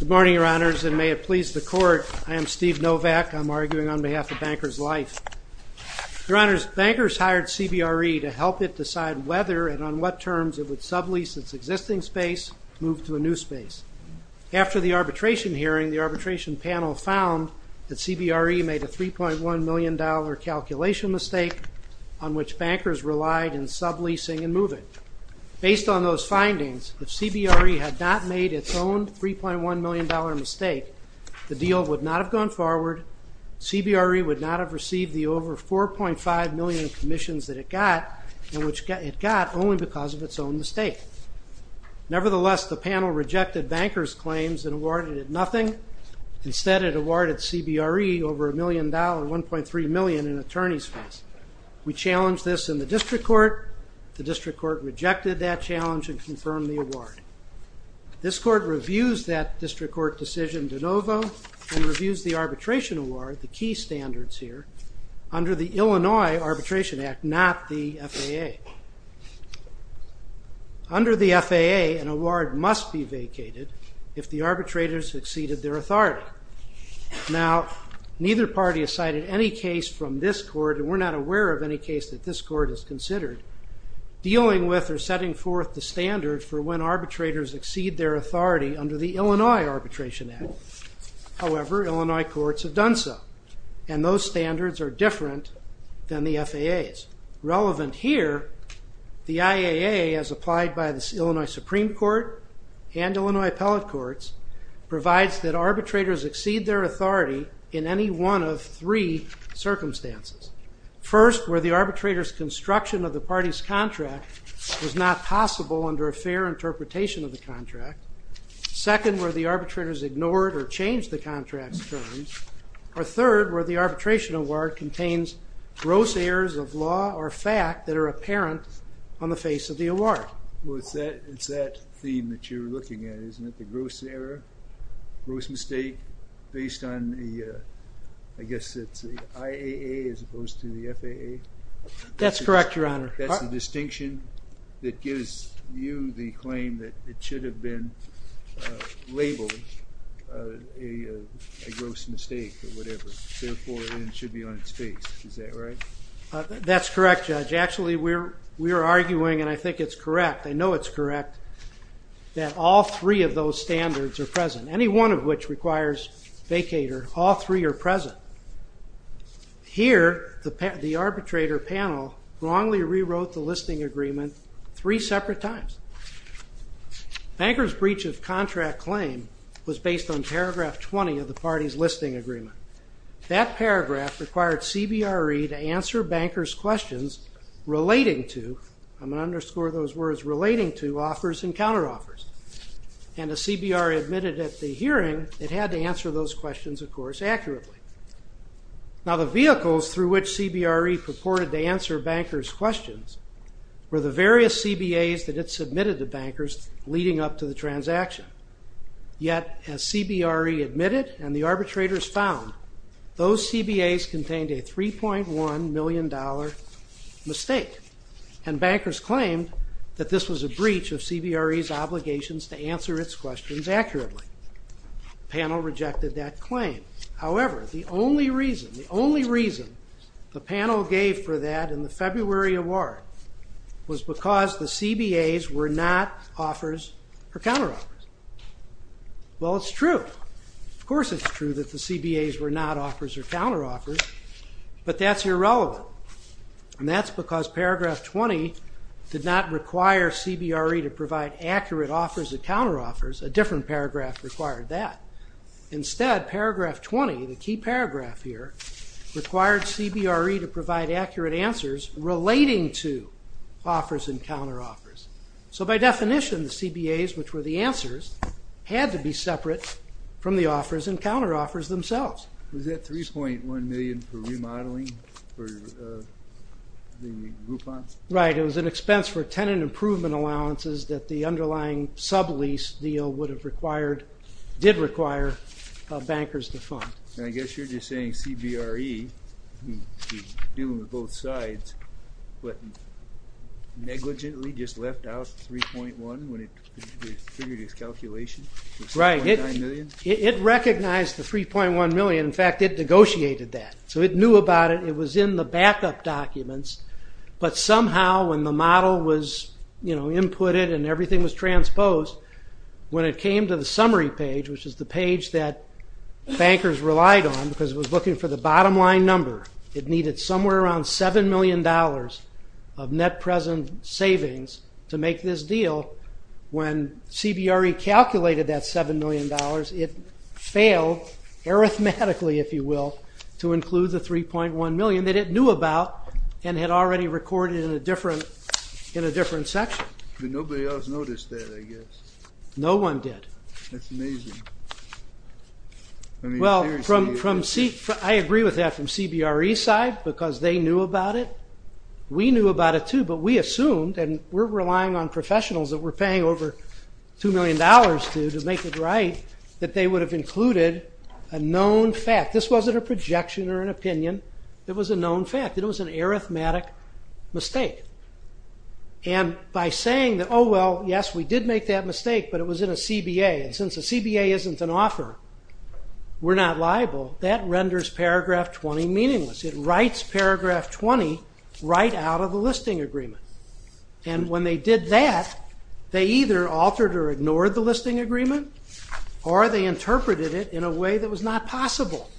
Good morning, Your Honors, and may it please the Court, I am Steve Novak. I'm arguing on behalf of Bankers Life. Your Honors, bankers hired CBRE to help it decide whether and on what terms it would sublease its existing space and move to a new space. After the arbitration hearing, the arbitration panel found that CBRE made a $3.1 million calculation mistake on which bankers relied in subleasing and moving. Based on those findings, if CBRE had not made its own $3.1 million mistake, the deal would not have gone forward, CBRE would not have received the over $4.5 million in commissions that it got, and which it got only because of its own mistake. Nevertheless, the panel rejected bankers' claims and awarded it nothing. Instead, it awarded CBRE over $1.3 million in attorney's fees. We challenged this in the District Court. The District Court rejected that challenge and confirmed the award. This Court reviews that District Court decision de novo and reviews the arbitration award, the key standards here, under the Illinois Arbitration Act, not the FAA. Under the FAA, an award must be vacated if the arbitrator has exceeded their authority. Now, neither party has cited any case from this Court, and we're not aware of any case that this Court has considered, dealing with or setting forth the standard for when arbitrators exceed their authority under the Illinois Arbitration Act. However, Illinois courts have done so, and those standards are different than the FAA's. Relevant here, the IAA, as applied by the Illinois Supreme Court and Illinois Appellate Courts, provides that arbitrators exceed their authority in any one of three circumstances. First, where the arbitrator's construction of the party's contract was not possible under a fair interpretation of the contract. Second, where the arbitrator's ignored or changed the contract's terms. Or third, where the arbitration award contains gross errors of law or fact that are apparent on the face of the award. Well, it's that theme that you're looking at, isn't it? The gross error, gross mistake, based on the, I guess it's the IAA as opposed to the FAA? That's correct, Your Honor. That's the distinction that gives you the claim that it should have been labeled a gross mistake or whatever. Therefore, it should be on its face. Is that right? That's correct, Judge. Actually, we're arguing, and I think it's correct, I know it's correct, that all three of those standards are present. Any one of which requires vacater, all three are present. Here, the arbitrator panel wrongly rewrote the listing agreement three separate times. Banker's breach of contract claim was based on paragraph 20 of the party's CBRE to answer bankers' questions relating to, I'm going to underscore those words, relating to offers and counteroffers. And the CBRE admitted at the hearing it had to answer those questions, of course, accurately. Now, the vehicles through which CBRE purported to answer bankers' questions were the various CBAs that it submitted to bankers leading up to the $3.1 million mistake. And bankers claimed that this was a breach of CBRE's obligations to answer its questions accurately. The panel rejected that claim. However, the only reason the panel gave for that in the February award was because the CBAs were not offers or counteroffers. Well, it's true. Of course, it's true that the CBAs were not offers or counteroffers, but that's irrelevant. And that's because paragraph 20 did not require CBRE to provide accurate offers and counteroffers. A different paragraph required that. Instead, paragraph 20, the key paragraph here, required CBRE to provide accurate answers relating to offers and counteroffers. So by definition, the CBAs, which were the answers, had to be separate from the offers and counteroffers themselves. Was that $3.1 million for remodeling for the Groupon? Right. It was an expense for tenant improvement allowances that the underlying sublease deal would have required, did require, bankers to fund. And I guess you're just saying that CBRE, dealing with both sides, but negligently just left out 3.1 when it figured its calculation was $3.9 million? Right. It recognized the $3.1 million. In fact, it negotiated that. So it knew about it. It was in the backup documents. But somehow, when the model was inputted and everything was transposed, when it came to the summary page, which is the for the bottom line number, it needed somewhere around $7 million of net present savings to make this deal. When CBRE calculated that $7 million, it failed, arithmetically, if you will, to include the $3.1 million that it knew about and had already recorded in a different section. But nobody else noticed that, I guess. No one did. That's amazing. Well, I agree with that from CBRE's side, because they knew about it. We knew about it too, but we assumed, and we're relying on professionals that we're paying over $2 million to to make it right, that they would have included a known fact. This wasn't a projection or an opinion. It was a known fact. It was an arithmetic mistake. And by saying that, oh well, yes, we did make that mistake, but it was in a CBA. And since a CBA isn't an offer, we're not liable, that renders paragraph 20 meaningless. It writes paragraph 20 right out of the listing agreement. And when they did that, they either altered or ignored the listing agreement, or they interpreted it in a way that was not possible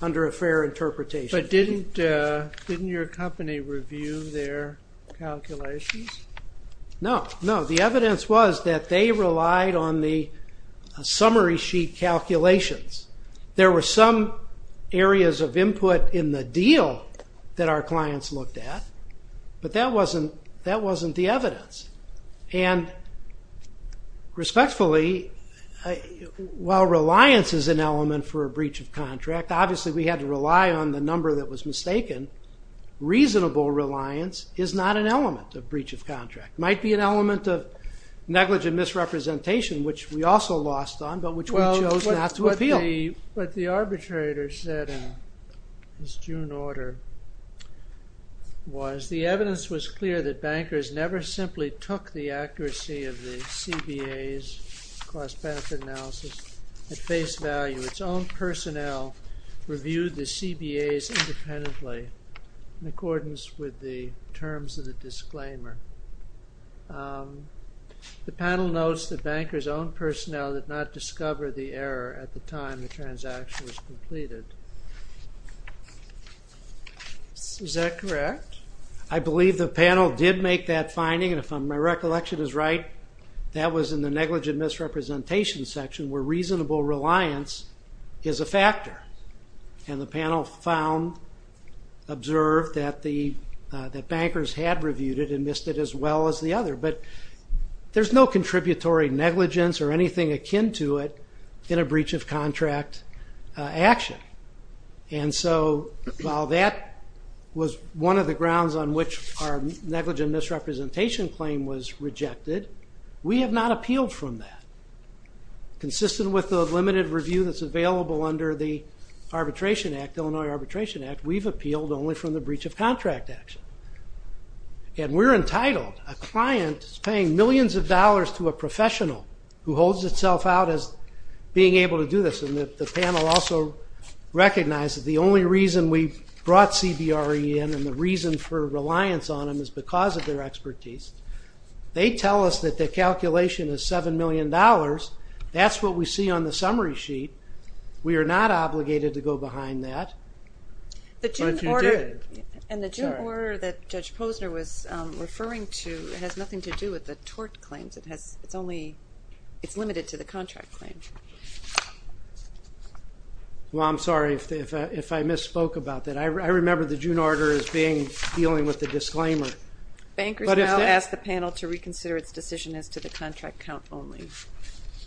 under a fair interpretation. But didn't your company review their calculations? No, no. The evidence was that they relied on the summary sheet calculations. There were some areas of input in the deal that our clients looked at, but that wasn't the evidence. And respectfully, while reliance is an element for a breach of contract, obviously we had to rely on the number that was mistaken. Reasonable reliance is not an element of breach of contract. It might be an element of negligent misrepresentation, which we also lost on, but which we chose not to appeal. What the arbitrator said in his June order was, the evidence was clear that bankers never simply took the accuracy of the CBA's cost-benefit analysis at face value. Its own personnel reviewed the CBA's independently, in accordance with the terms of the disclaimer. The panel notes that bankers' own personnel did not discover the error at the time the transaction was completed. Is that correct? I believe the panel did make that finding, and if my recollection is right, that was in the negligent misrepresentation section, where reasonable reliance is a factor. And the panel found, observed, that bankers had reviewed it and missed it as well as the other. But there's no contributory negligence or anything akin to it in a breach of contract action. And so while that was one of the grounds on which our negligent misrepresentation claim was rejected, we have not appealed from that. Consistent with the limited review that's available under the Illinois Arbitration Act, we've appealed only from the breach of contract action. And we're entitled, a client paying millions of dollars to a professional who holds itself out as being able to do this. And the panel also recognized that the only reason we brought CBRE in and the reason for reliance on them is because of their expertise. They tell us that the calculation is $7 million. That's what we see on the summary sheet. We are not obligated to go behind that. But you did. And the June order that Judge Posner was referring to has nothing to do with the tort claims. It's limited to the contract claim. Well, I'm sorry if I misspoke about that. I remember the June order as being dealing with the disclaimer. Bankers now ask the panel to reconsider its decision as to the contract count only.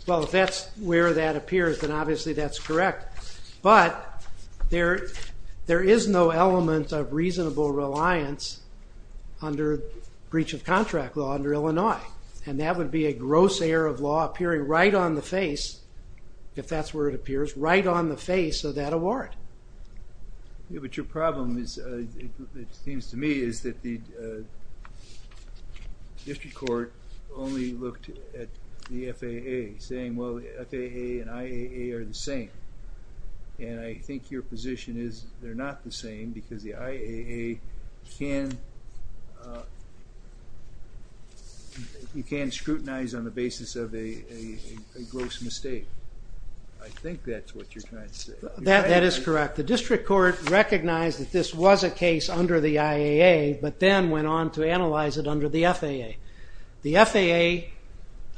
Well, if that's where that appears, then obviously that's correct. But there is no element of reasonable reliance under breach of contract law under Illinois. And that would be a gross error of law appearing right on the face, if that's where it appears, But your problem is, it seems to me, is that the district court only looked at the FAA, saying, well, FAA and IAA are the same. And I think your position is they're not the same because the IAA can scrutinize on the basis of a gross mistake. I think that's what you're trying to say. That is correct. The district court recognized that this was a case under the IAA, but then went on to analyze it under the FAA. The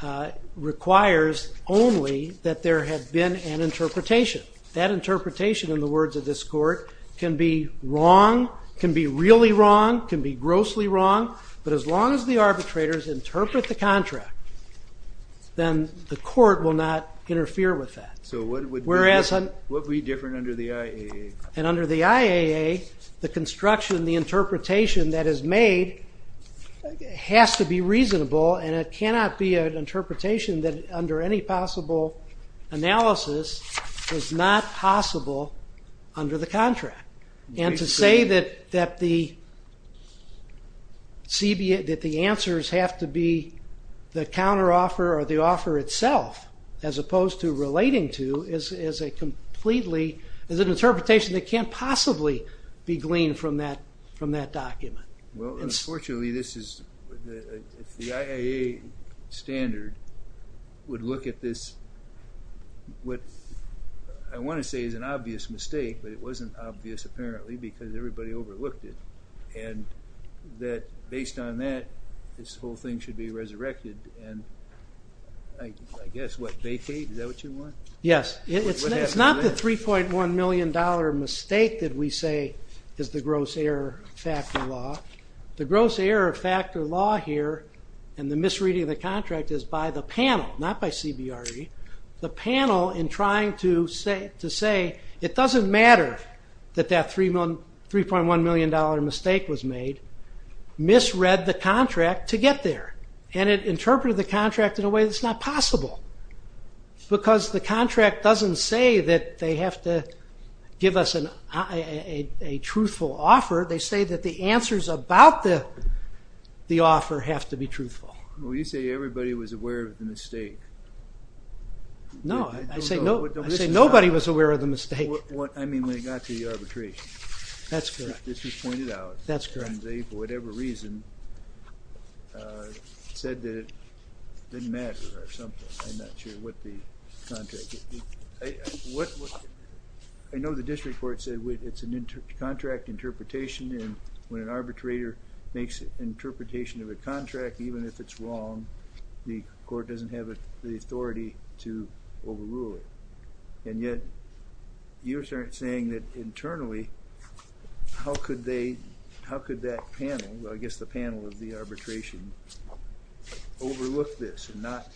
FAA requires only that there have been an interpretation. That interpretation, in the words of this court, can be wrong, can be really wrong, can be grossly wrong. But as long as the arbitrators interpret the contract, then the court will not interfere with that. So what would be different under the IAA? And under the IAA, the construction, the interpretation that is made has to be reasonable and it cannot be an interpretation that, under any possible analysis, is not possible under the contract. And to say that the answers have to be the counteroffer or the offer itself, as opposed to relating to, is a completely, is an interpretation that can't possibly be gleaned from that document. Well, unfortunately this is, if the IAA standard would look at this, what I want to say is an obvious mistake, but it wasn't obvious apparently because everybody overlooked it. And that, based on that, this whole thing should be resurrected. And I guess, what, vacate? Is that what you want? Yes. It's not the $3.1 million mistake that we say is the gross error factor law. The gross error factor law here, and the misreading of the contract, is by the panel, not by CBRE. The panel, in trying to say, it doesn't matter that that $3.1 million mistake was made, misread the contract to get there. And it interpreted the contract in a way that's not possible. Because the contract doesn't say that they have to give us a truthful offer. They say that the answers about the offer have to be truthful. Well, you say everybody was aware of the mistake. No, I say nobody was aware of the mistake. I mean, when it got to the arbitration. That's correct. This was pointed out. That's correct. And they, for whatever reason, said that it didn't matter or something. I'm not sure what the contract... I know the district court said it's a contract interpretation and when an arbitrator makes an interpretation of a contract, even if it's wrong, the court doesn't have the authority to overrule it. And yet, you're saying that internally, how could that panel, I guess the panel of the arbitration, overlook this and not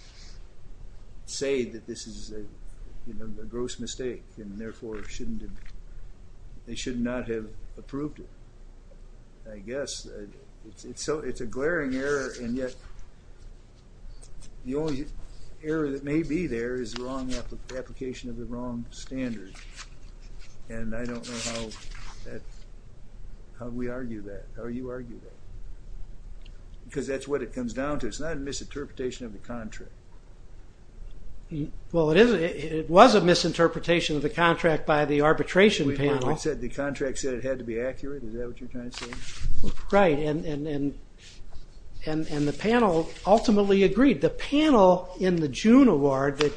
say that this is a gross mistake and therefore they should not have approved it. I guess it's a glaring error and yet the only error that may be there is the wrong application of the wrong standard. And I don't know how we argue that, how you argue that. Because that's what it comes down to. It's not a misinterpretation of the contract. Well, it was a misinterpretation of the contract by the arbitration panel. Wait a minute. The contract said it had to be accurate? Is that what you're trying to say? Right. And the panel ultimately agreed. The panel in the June award that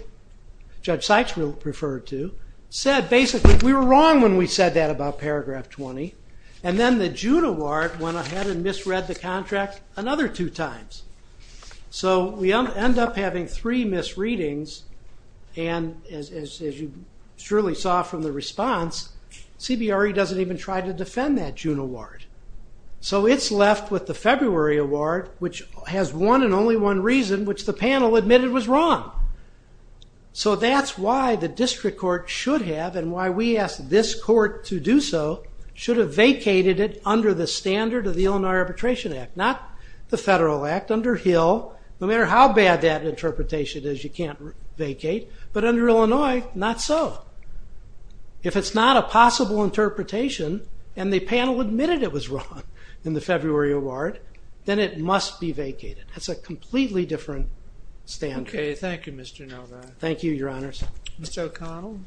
Judge Sykes referred to said basically we were wrong when we said that about paragraph 20. And then the June award went ahead and misread the contract another two times. So we end up having three misreadings. And as you surely saw from the response, CBRE doesn't even try to defend that June award. So it's left with the February award, which has one and only one reason, which the panel admitted was wrong. So that's why the district court should have, and why we asked this court to do so, should have vacated it under the standard of the Illinois Arbitration Act. Not the federal act, under Hill. No matter how bad that interpretation is, you can't vacate. But under Illinois, not so. If it's not a possible interpretation, and the panel admitted it was wrong in the February award, then it must be vacated. That's a completely different standard. Okay. Thank you, Mr. Novak. Thank you, Your Honors. Mr. O'Connell?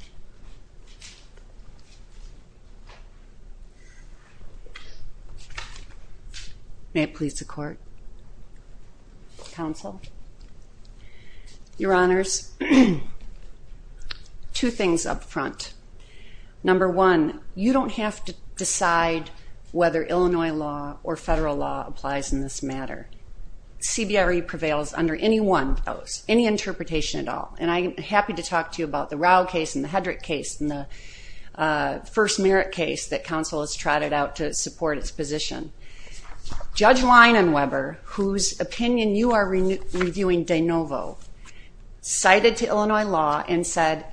May it please the court? Counsel? Your Honors, two things up front. Number one, you don't have to decide whether Illinois law or federal law applies in this matter. CBRE prevails under any one of those, any interpretation at all. and the other cases, but I just want to say that in the Hedrick case, in the first Merritt case that counsel has trotted out to support its position. Judge Wein and Weber, whose opinion you are reviewing de novo, cited to Illinois law and said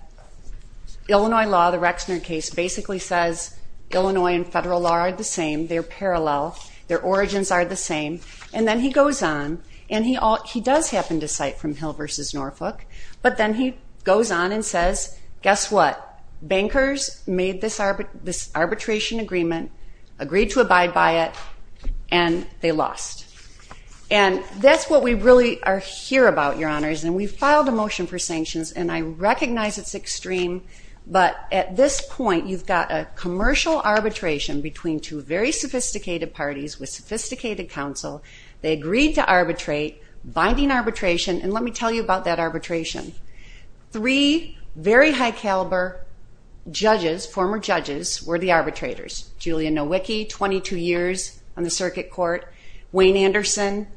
Illinois law, the Rexner case, basically says Illinois and federal law are the same, they're parallel, their origins are the same, and then he goes on, and he does happen to cite from Hill v. Norfolk, but then he goes on and says, guess what? Bankers made this arbitration agreement, agreed to abide by it, and they lost. And that's what we really are here about, Your Honors, and we filed a motion for sanctions and I recognize it's extreme, but at this point, you've got a commercial arbitration between two very sophisticated parties with sophisticated counsel, they agreed to arbitrate, binding arbitration, and let me tell you about that arbitration. Three very high caliber judges, former judges, were the arbitrators. Julia Nowicki, 22 years on the circuit court, Wayne Anderson,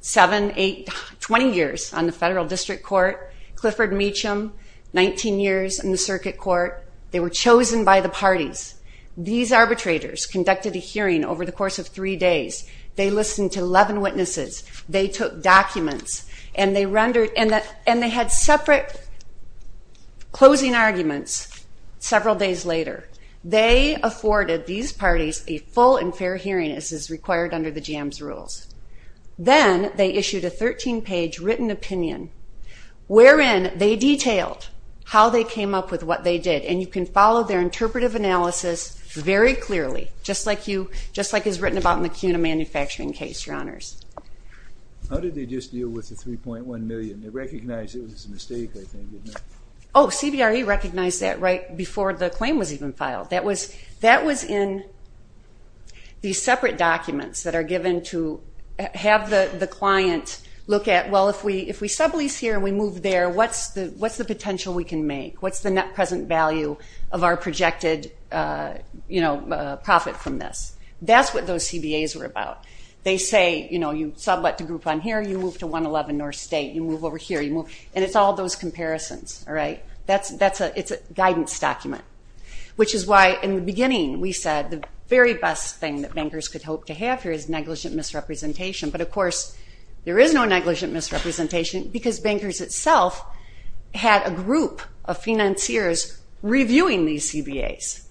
7, 8, 20 years on the federal district court, Clifford Meacham, 19 years on the circuit court, they were chosen by the parties. These arbitrators conducted a hearing over the course of three days, they listened to 11 witnesses, they took documents, and they had separate closing arguments several days later. They afforded these parties a full and fair hearing as is required under the GM's rules. Then, they issued a 13-page written opinion wherein they detailed how they came up with what they did and you can follow their interpretive analysis very clearly, just like it's written about in the CUNA manufacturing case, your honors. How did they just deal with the 3.1 million? They recognized it was a mistake, I think, didn't they? Oh, CBRE recognized that right before the claim was even filed. That was in these separate documents that are given to have the client look at, well, if we sublease here and we move there, what's the potential we can make? What's the net present value of our projected, you know, what those CBAs were about? They say, you know, you sublet to Groupon here, you move to 111 North State, you move over here, you move, and it's all those comparisons, all right? It's a guidance document, which is why in the beginning, we said the very best thing that bankers could hope to have here is negligent misrepresentation, but of course there is no negligent misrepresentation because bankers itself had a group of financiers reviewing these CBAs.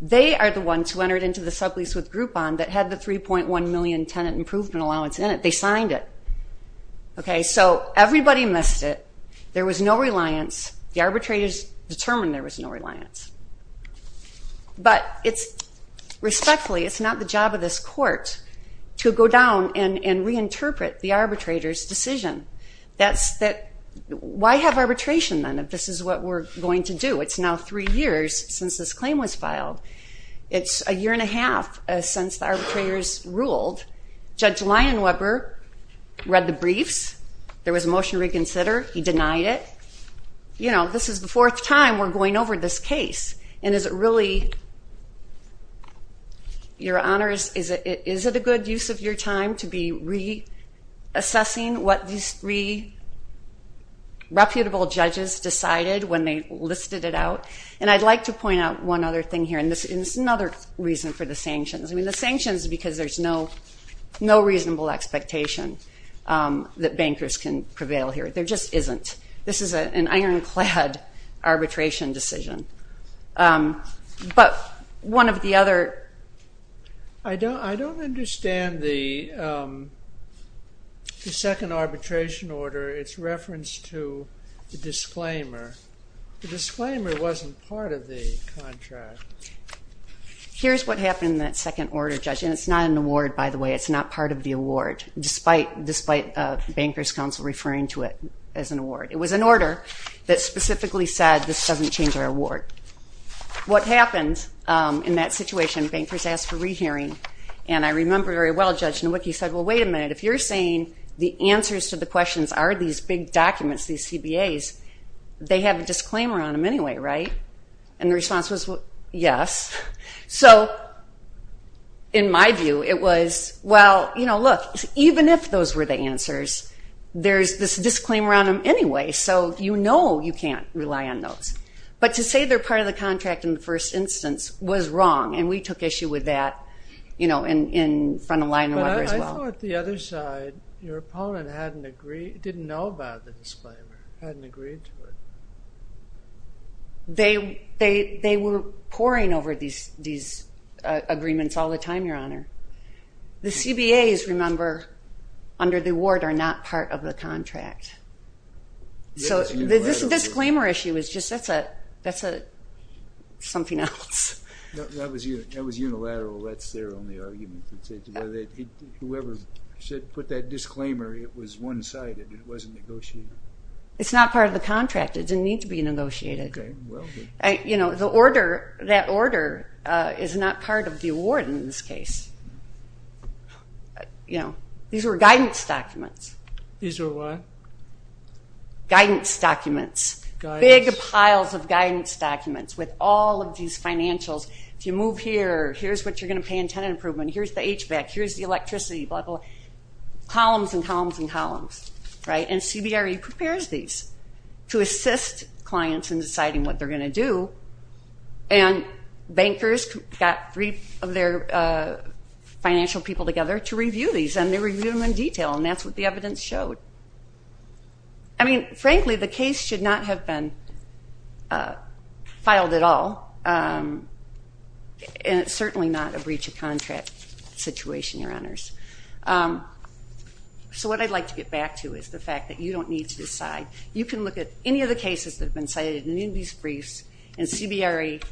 They are the ones who entered into the sublease with Groupon that had the 3.1 million tenant improvement allowance in it. They signed it. Okay, so everybody missed it. There was no reliance. The arbitrators determined there was no reliance. But it's, respectfully, it's not the job of this court to go down and reinterpret the arbitrator's decision. That's that, why have arbitration then if this is what we're going to do? It's now three years since this claim was filed. It's a year and a half since the arbitrators ruled. Judge Lyon-Weber read the briefs. There was a motion to reconsider. He denied it. This is the fourth time we're going over this case, and is it really your honors, is it a good use of your time to be reassessing what these three reputable judges decided when they listed it out? And I'd like to point out one other thing here, and this is another reason for the sanctions. I mean, the sanctions because there's no reasonable expectation that bankers can prevail here. There just isn't. This is an ironclad arbitration decision. But one of the other... I don't understand the second arbitration order, its reference to the disclaimer. The disclaimer wasn't part of the contract. Here's what happened in that second order, Judge. And it's not an award, by the way. It's not part of the award, despite Bankers Council referring to it as an award. It was an order that specifically said, this doesn't change our award. What happened in that situation, bankers asked for rehearing, and I remember very well, Judge Nowicki said, well, wait a minute. If you're saying the answers to the questions are these big documents, these CBAs, they have a disclaimer on them anyway, right? And the response was, yes. So, in my view, it was, well, you know, look, even if those were the answers, there's this disclaimer on them anyway, so you know you can't rely on those. But to say they're part of the contract in the first instance was wrong, and we took issue with that in front of Lionel and others as well. But I thought the other side, your opponent, didn't know about the disclaimer, hadn't agreed to it. They were poring over these agreements all the time, Your Honor. The CBAs, remember, under the award, are not part of the contract. So this disclaimer issue is just, that's a something else. That was unilateral. That's their only argument. Whoever put that disclaimer, it was one-sided. It wasn't negotiated. It's not part of the contract. It didn't need to be negotiated. That order is not part of the award in this case. These were guidance documents. These were what? Guidance documents. Big piles of guidance documents with all of these financials. If you move here, here's what you're going to pay in tenant improvement. Here's the HVAC. Here's the electricity. Columns and columns and columns. And CBRE prepares these to assist clients in deciding what they're going to do. And bankers got three of their financial people together to review these. And they reviewed them in detail. And that's what the evidence showed. I mean, frankly, the case should not have been filed at all. And it's certainly not a breach of contract situation, Your Honors. So what I'd like to get back to is the fact that you don't need to decide. You can look at any of the cases that have been cited in these briefs, and CBRE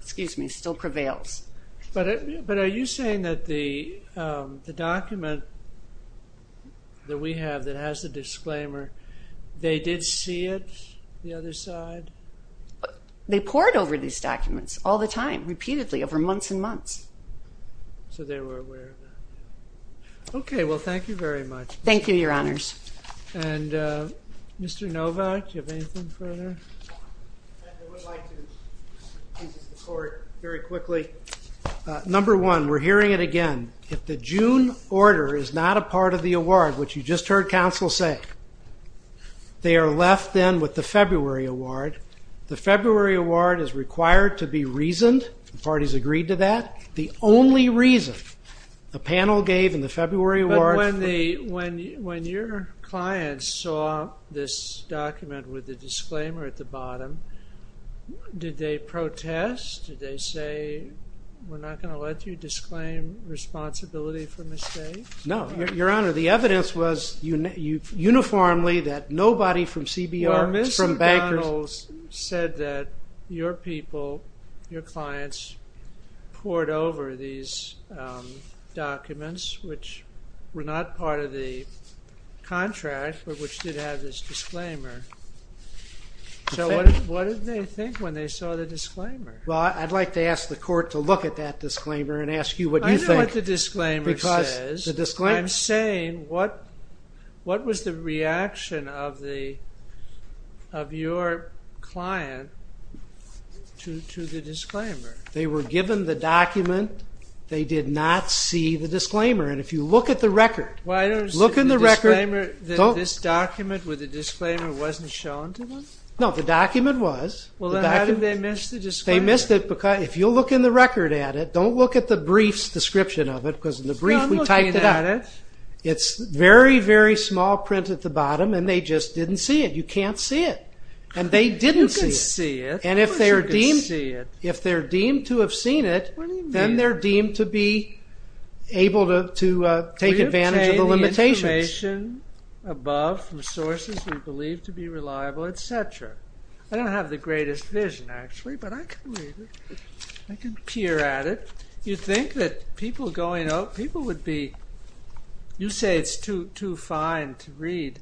still prevails. But are you saying that the document that we have that has the disclaimer, they did see it, the other side? They poured over these documents all the time, repeatedly, over months and months. So they were aware of that. Okay. Well, thank you very much. Thank you, Your Honors. And Mr. Novak, do you have anything further? I would like to very quickly. Number one, we're hearing it again. If the June order is not a part of the award, which you just heard counsel say, they are left then with the February award. The February award is required to be reasoned. The parties agreed to that. The only reason the panel gave in the February award... But when your clients saw this document with the disclaimer at the bottom, did they protest? Did they say, we're not going to let you disclaim responsibility for mistakes? No. Your Honor, the evidence was uniformly that nobody from CBR, from bankers... Well, Ms. McDonald said that your people, your clients, poured over these documents, which were not part of the contract, but which did have this disclaimer. So what did they think when they saw the disclaimer? Well, I'd like to ask the court to look at that disclaimer and ask you what you think. I know what the disclaimer says. I'm saying, what was the reaction of the... of your client to the disclaimer? They were given the document. They did not see the disclaimer. And if you look at the record, look in the record... This document with the disclaimer wasn't shown to them? No, the document was. Well, then how did they miss the disclaimer? They missed it because if you look in the record at it, don't look at the brief's description of it, because in the very, very small print at the bottom, and they just didn't see it. You can't see it. And they didn't see it. You can see it. Of course you can see it. And if they're deemed to have seen it, then they're deemed to be able to take advantage of the limitations. We obtained the information above from sources we believe to be reliable, etc. I don't have the greatest vision actually, but I can read it. I can peer at it. You think that people going out... People would be... You say it's too fine to read,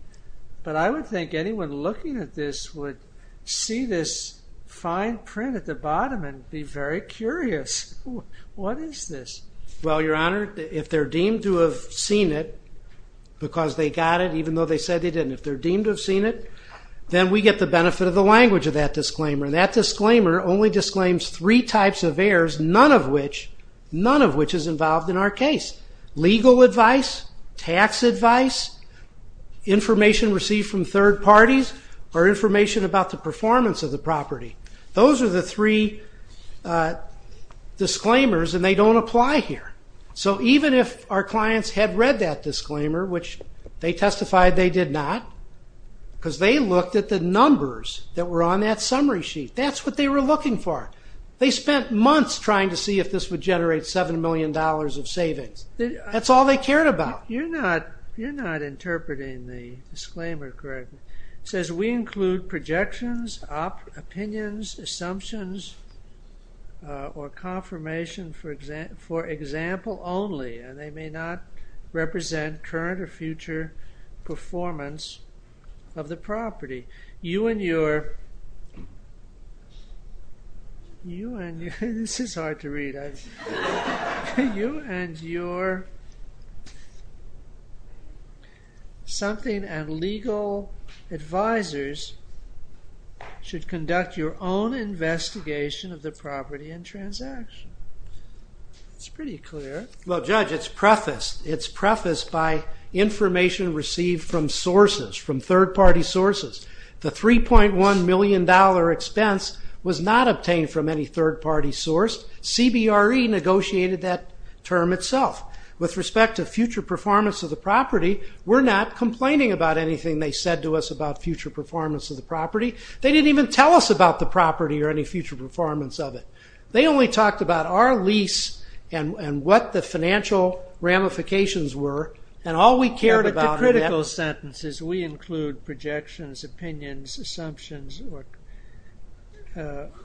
but I would think anyone looking at this would see this fine print at the bottom and be very curious. What is this? Well, Your Honor, if they're deemed to have seen it, because they got it even though they said they didn't. If they're deemed to have seen it, then we get the benefit of the language of that disclaimer. And that disclaimer only disclaims three types of errors, none of which is involved in our case. Legal advice, tax advice, information received from third parties, or information about the performance of the property. Those are the three disclaimers, and they don't apply here. Even if our clients had read that disclaimer, which they testified they did not, because they looked at the numbers that were on that summary sheet. That's what they were looking for. They spent months trying to see if this would generate $7 million of savings. That's all they cared about. You're not interpreting the disclaimer correctly. It says we include projections, opinions, assumptions, or confirmation for example only, and they may not represent current or future performance of the property. You and your... This is hard to read. You and your something and legal advisors should conduct your own investigation of the property and transaction. It's pretty clear. Well Judge, it's prefaced. It's prefaced by information received from sources, from third party sources. The $3.1 million expense was not obtained from any third party source. CBRE negotiated that term itself. With respect to future performance of the property, we're not complaining about anything they said to us about future performance of the property. They didn't even tell us about the property or any future performance of it. They only talked about our lease and what the financial ramifications were and all we cared about... The critical sentence is we include projections, opinions, assumptions,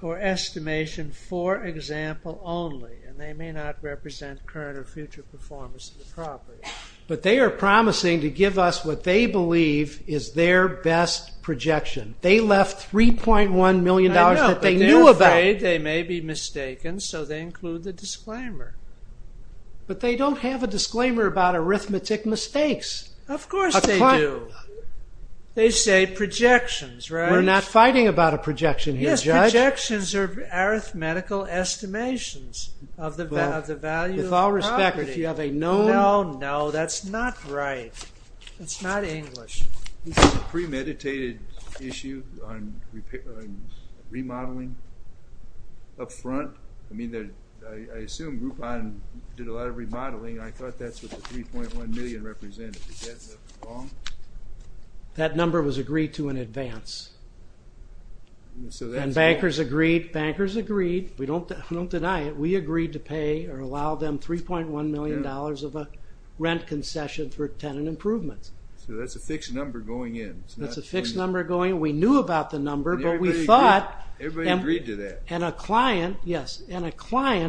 or estimation for example only and they may not represent current or future performance of the property. But they are promising to give us what they believe is their best projection. They left $3.1 million that they knew about. I know, but they're afraid they may be mistaken so they include the disclaimer. But they don't have a disclaimer about arithmetic mistakes. Of course they do. They say projections, right? We're not fighting about a projection here, Judge. Yes, projections are arithmetical estimations of the value of the property. With all respect, if you have a known... No, no, that's not right. It's not English. This is a premeditated issue on remodeling up front. I mean, I assume Groupon did a lot of remodeling. I thought that's what the $3.1 million is being represented. Is that wrong? That number was agreed to in advance. And bankers agreed. Bankers agreed. We don't deny it. We agreed to pay or allow them $3.1 million of a rent concession for tenant improvements. So that's a fixed number going in. That's a fixed number going in. We knew about the number, but we thought... Everybody agreed to that. And a client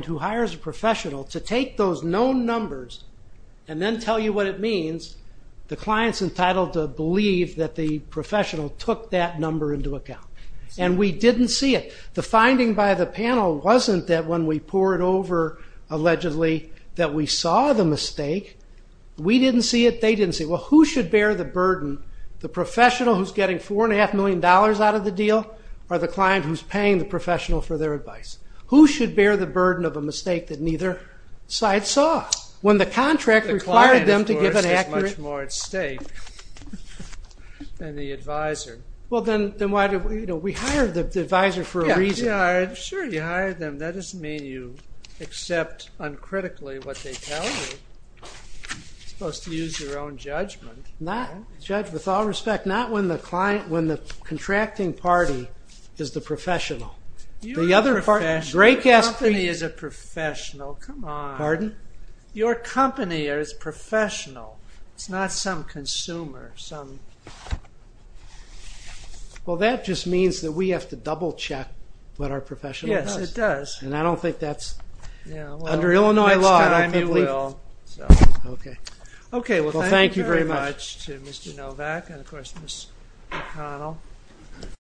who hires a professional to take those known numbers and then tell you what it means, the client's entitled to believe that the professional took that number into account. And we didn't see it. The finding by the panel wasn't that when we poured over, allegedly, that we saw the mistake. We didn't see it. They didn't see it. Well, who should bear the burden? The professional who's getting $4.5 million out of the deal or the client who's paying the professional for their advice? Who should bear the burden of a mistake that neither side saw? When the contract required them to give an accurate... The client, of course, is much more at stake than the advisor. Well, then why did we... We hired the advisor for a reason. Sure, you hired them. That doesn't mean you accept uncritically what they tell you. You're supposed to use your own judgment. Not...judge with all respect. Not when the client...when the contracting party is the professional. You're a professional. Your company is a professional. Come on. Pardon? Your company is professional. It's not some consumer. Some... Well, that just means that we have to double-check what our professional does. Yes, it does. And I don't think that's... Under Illinois law, I don't think... Okay, well, thank you very much to Mr. Novak and, of course, Ms. McConnell.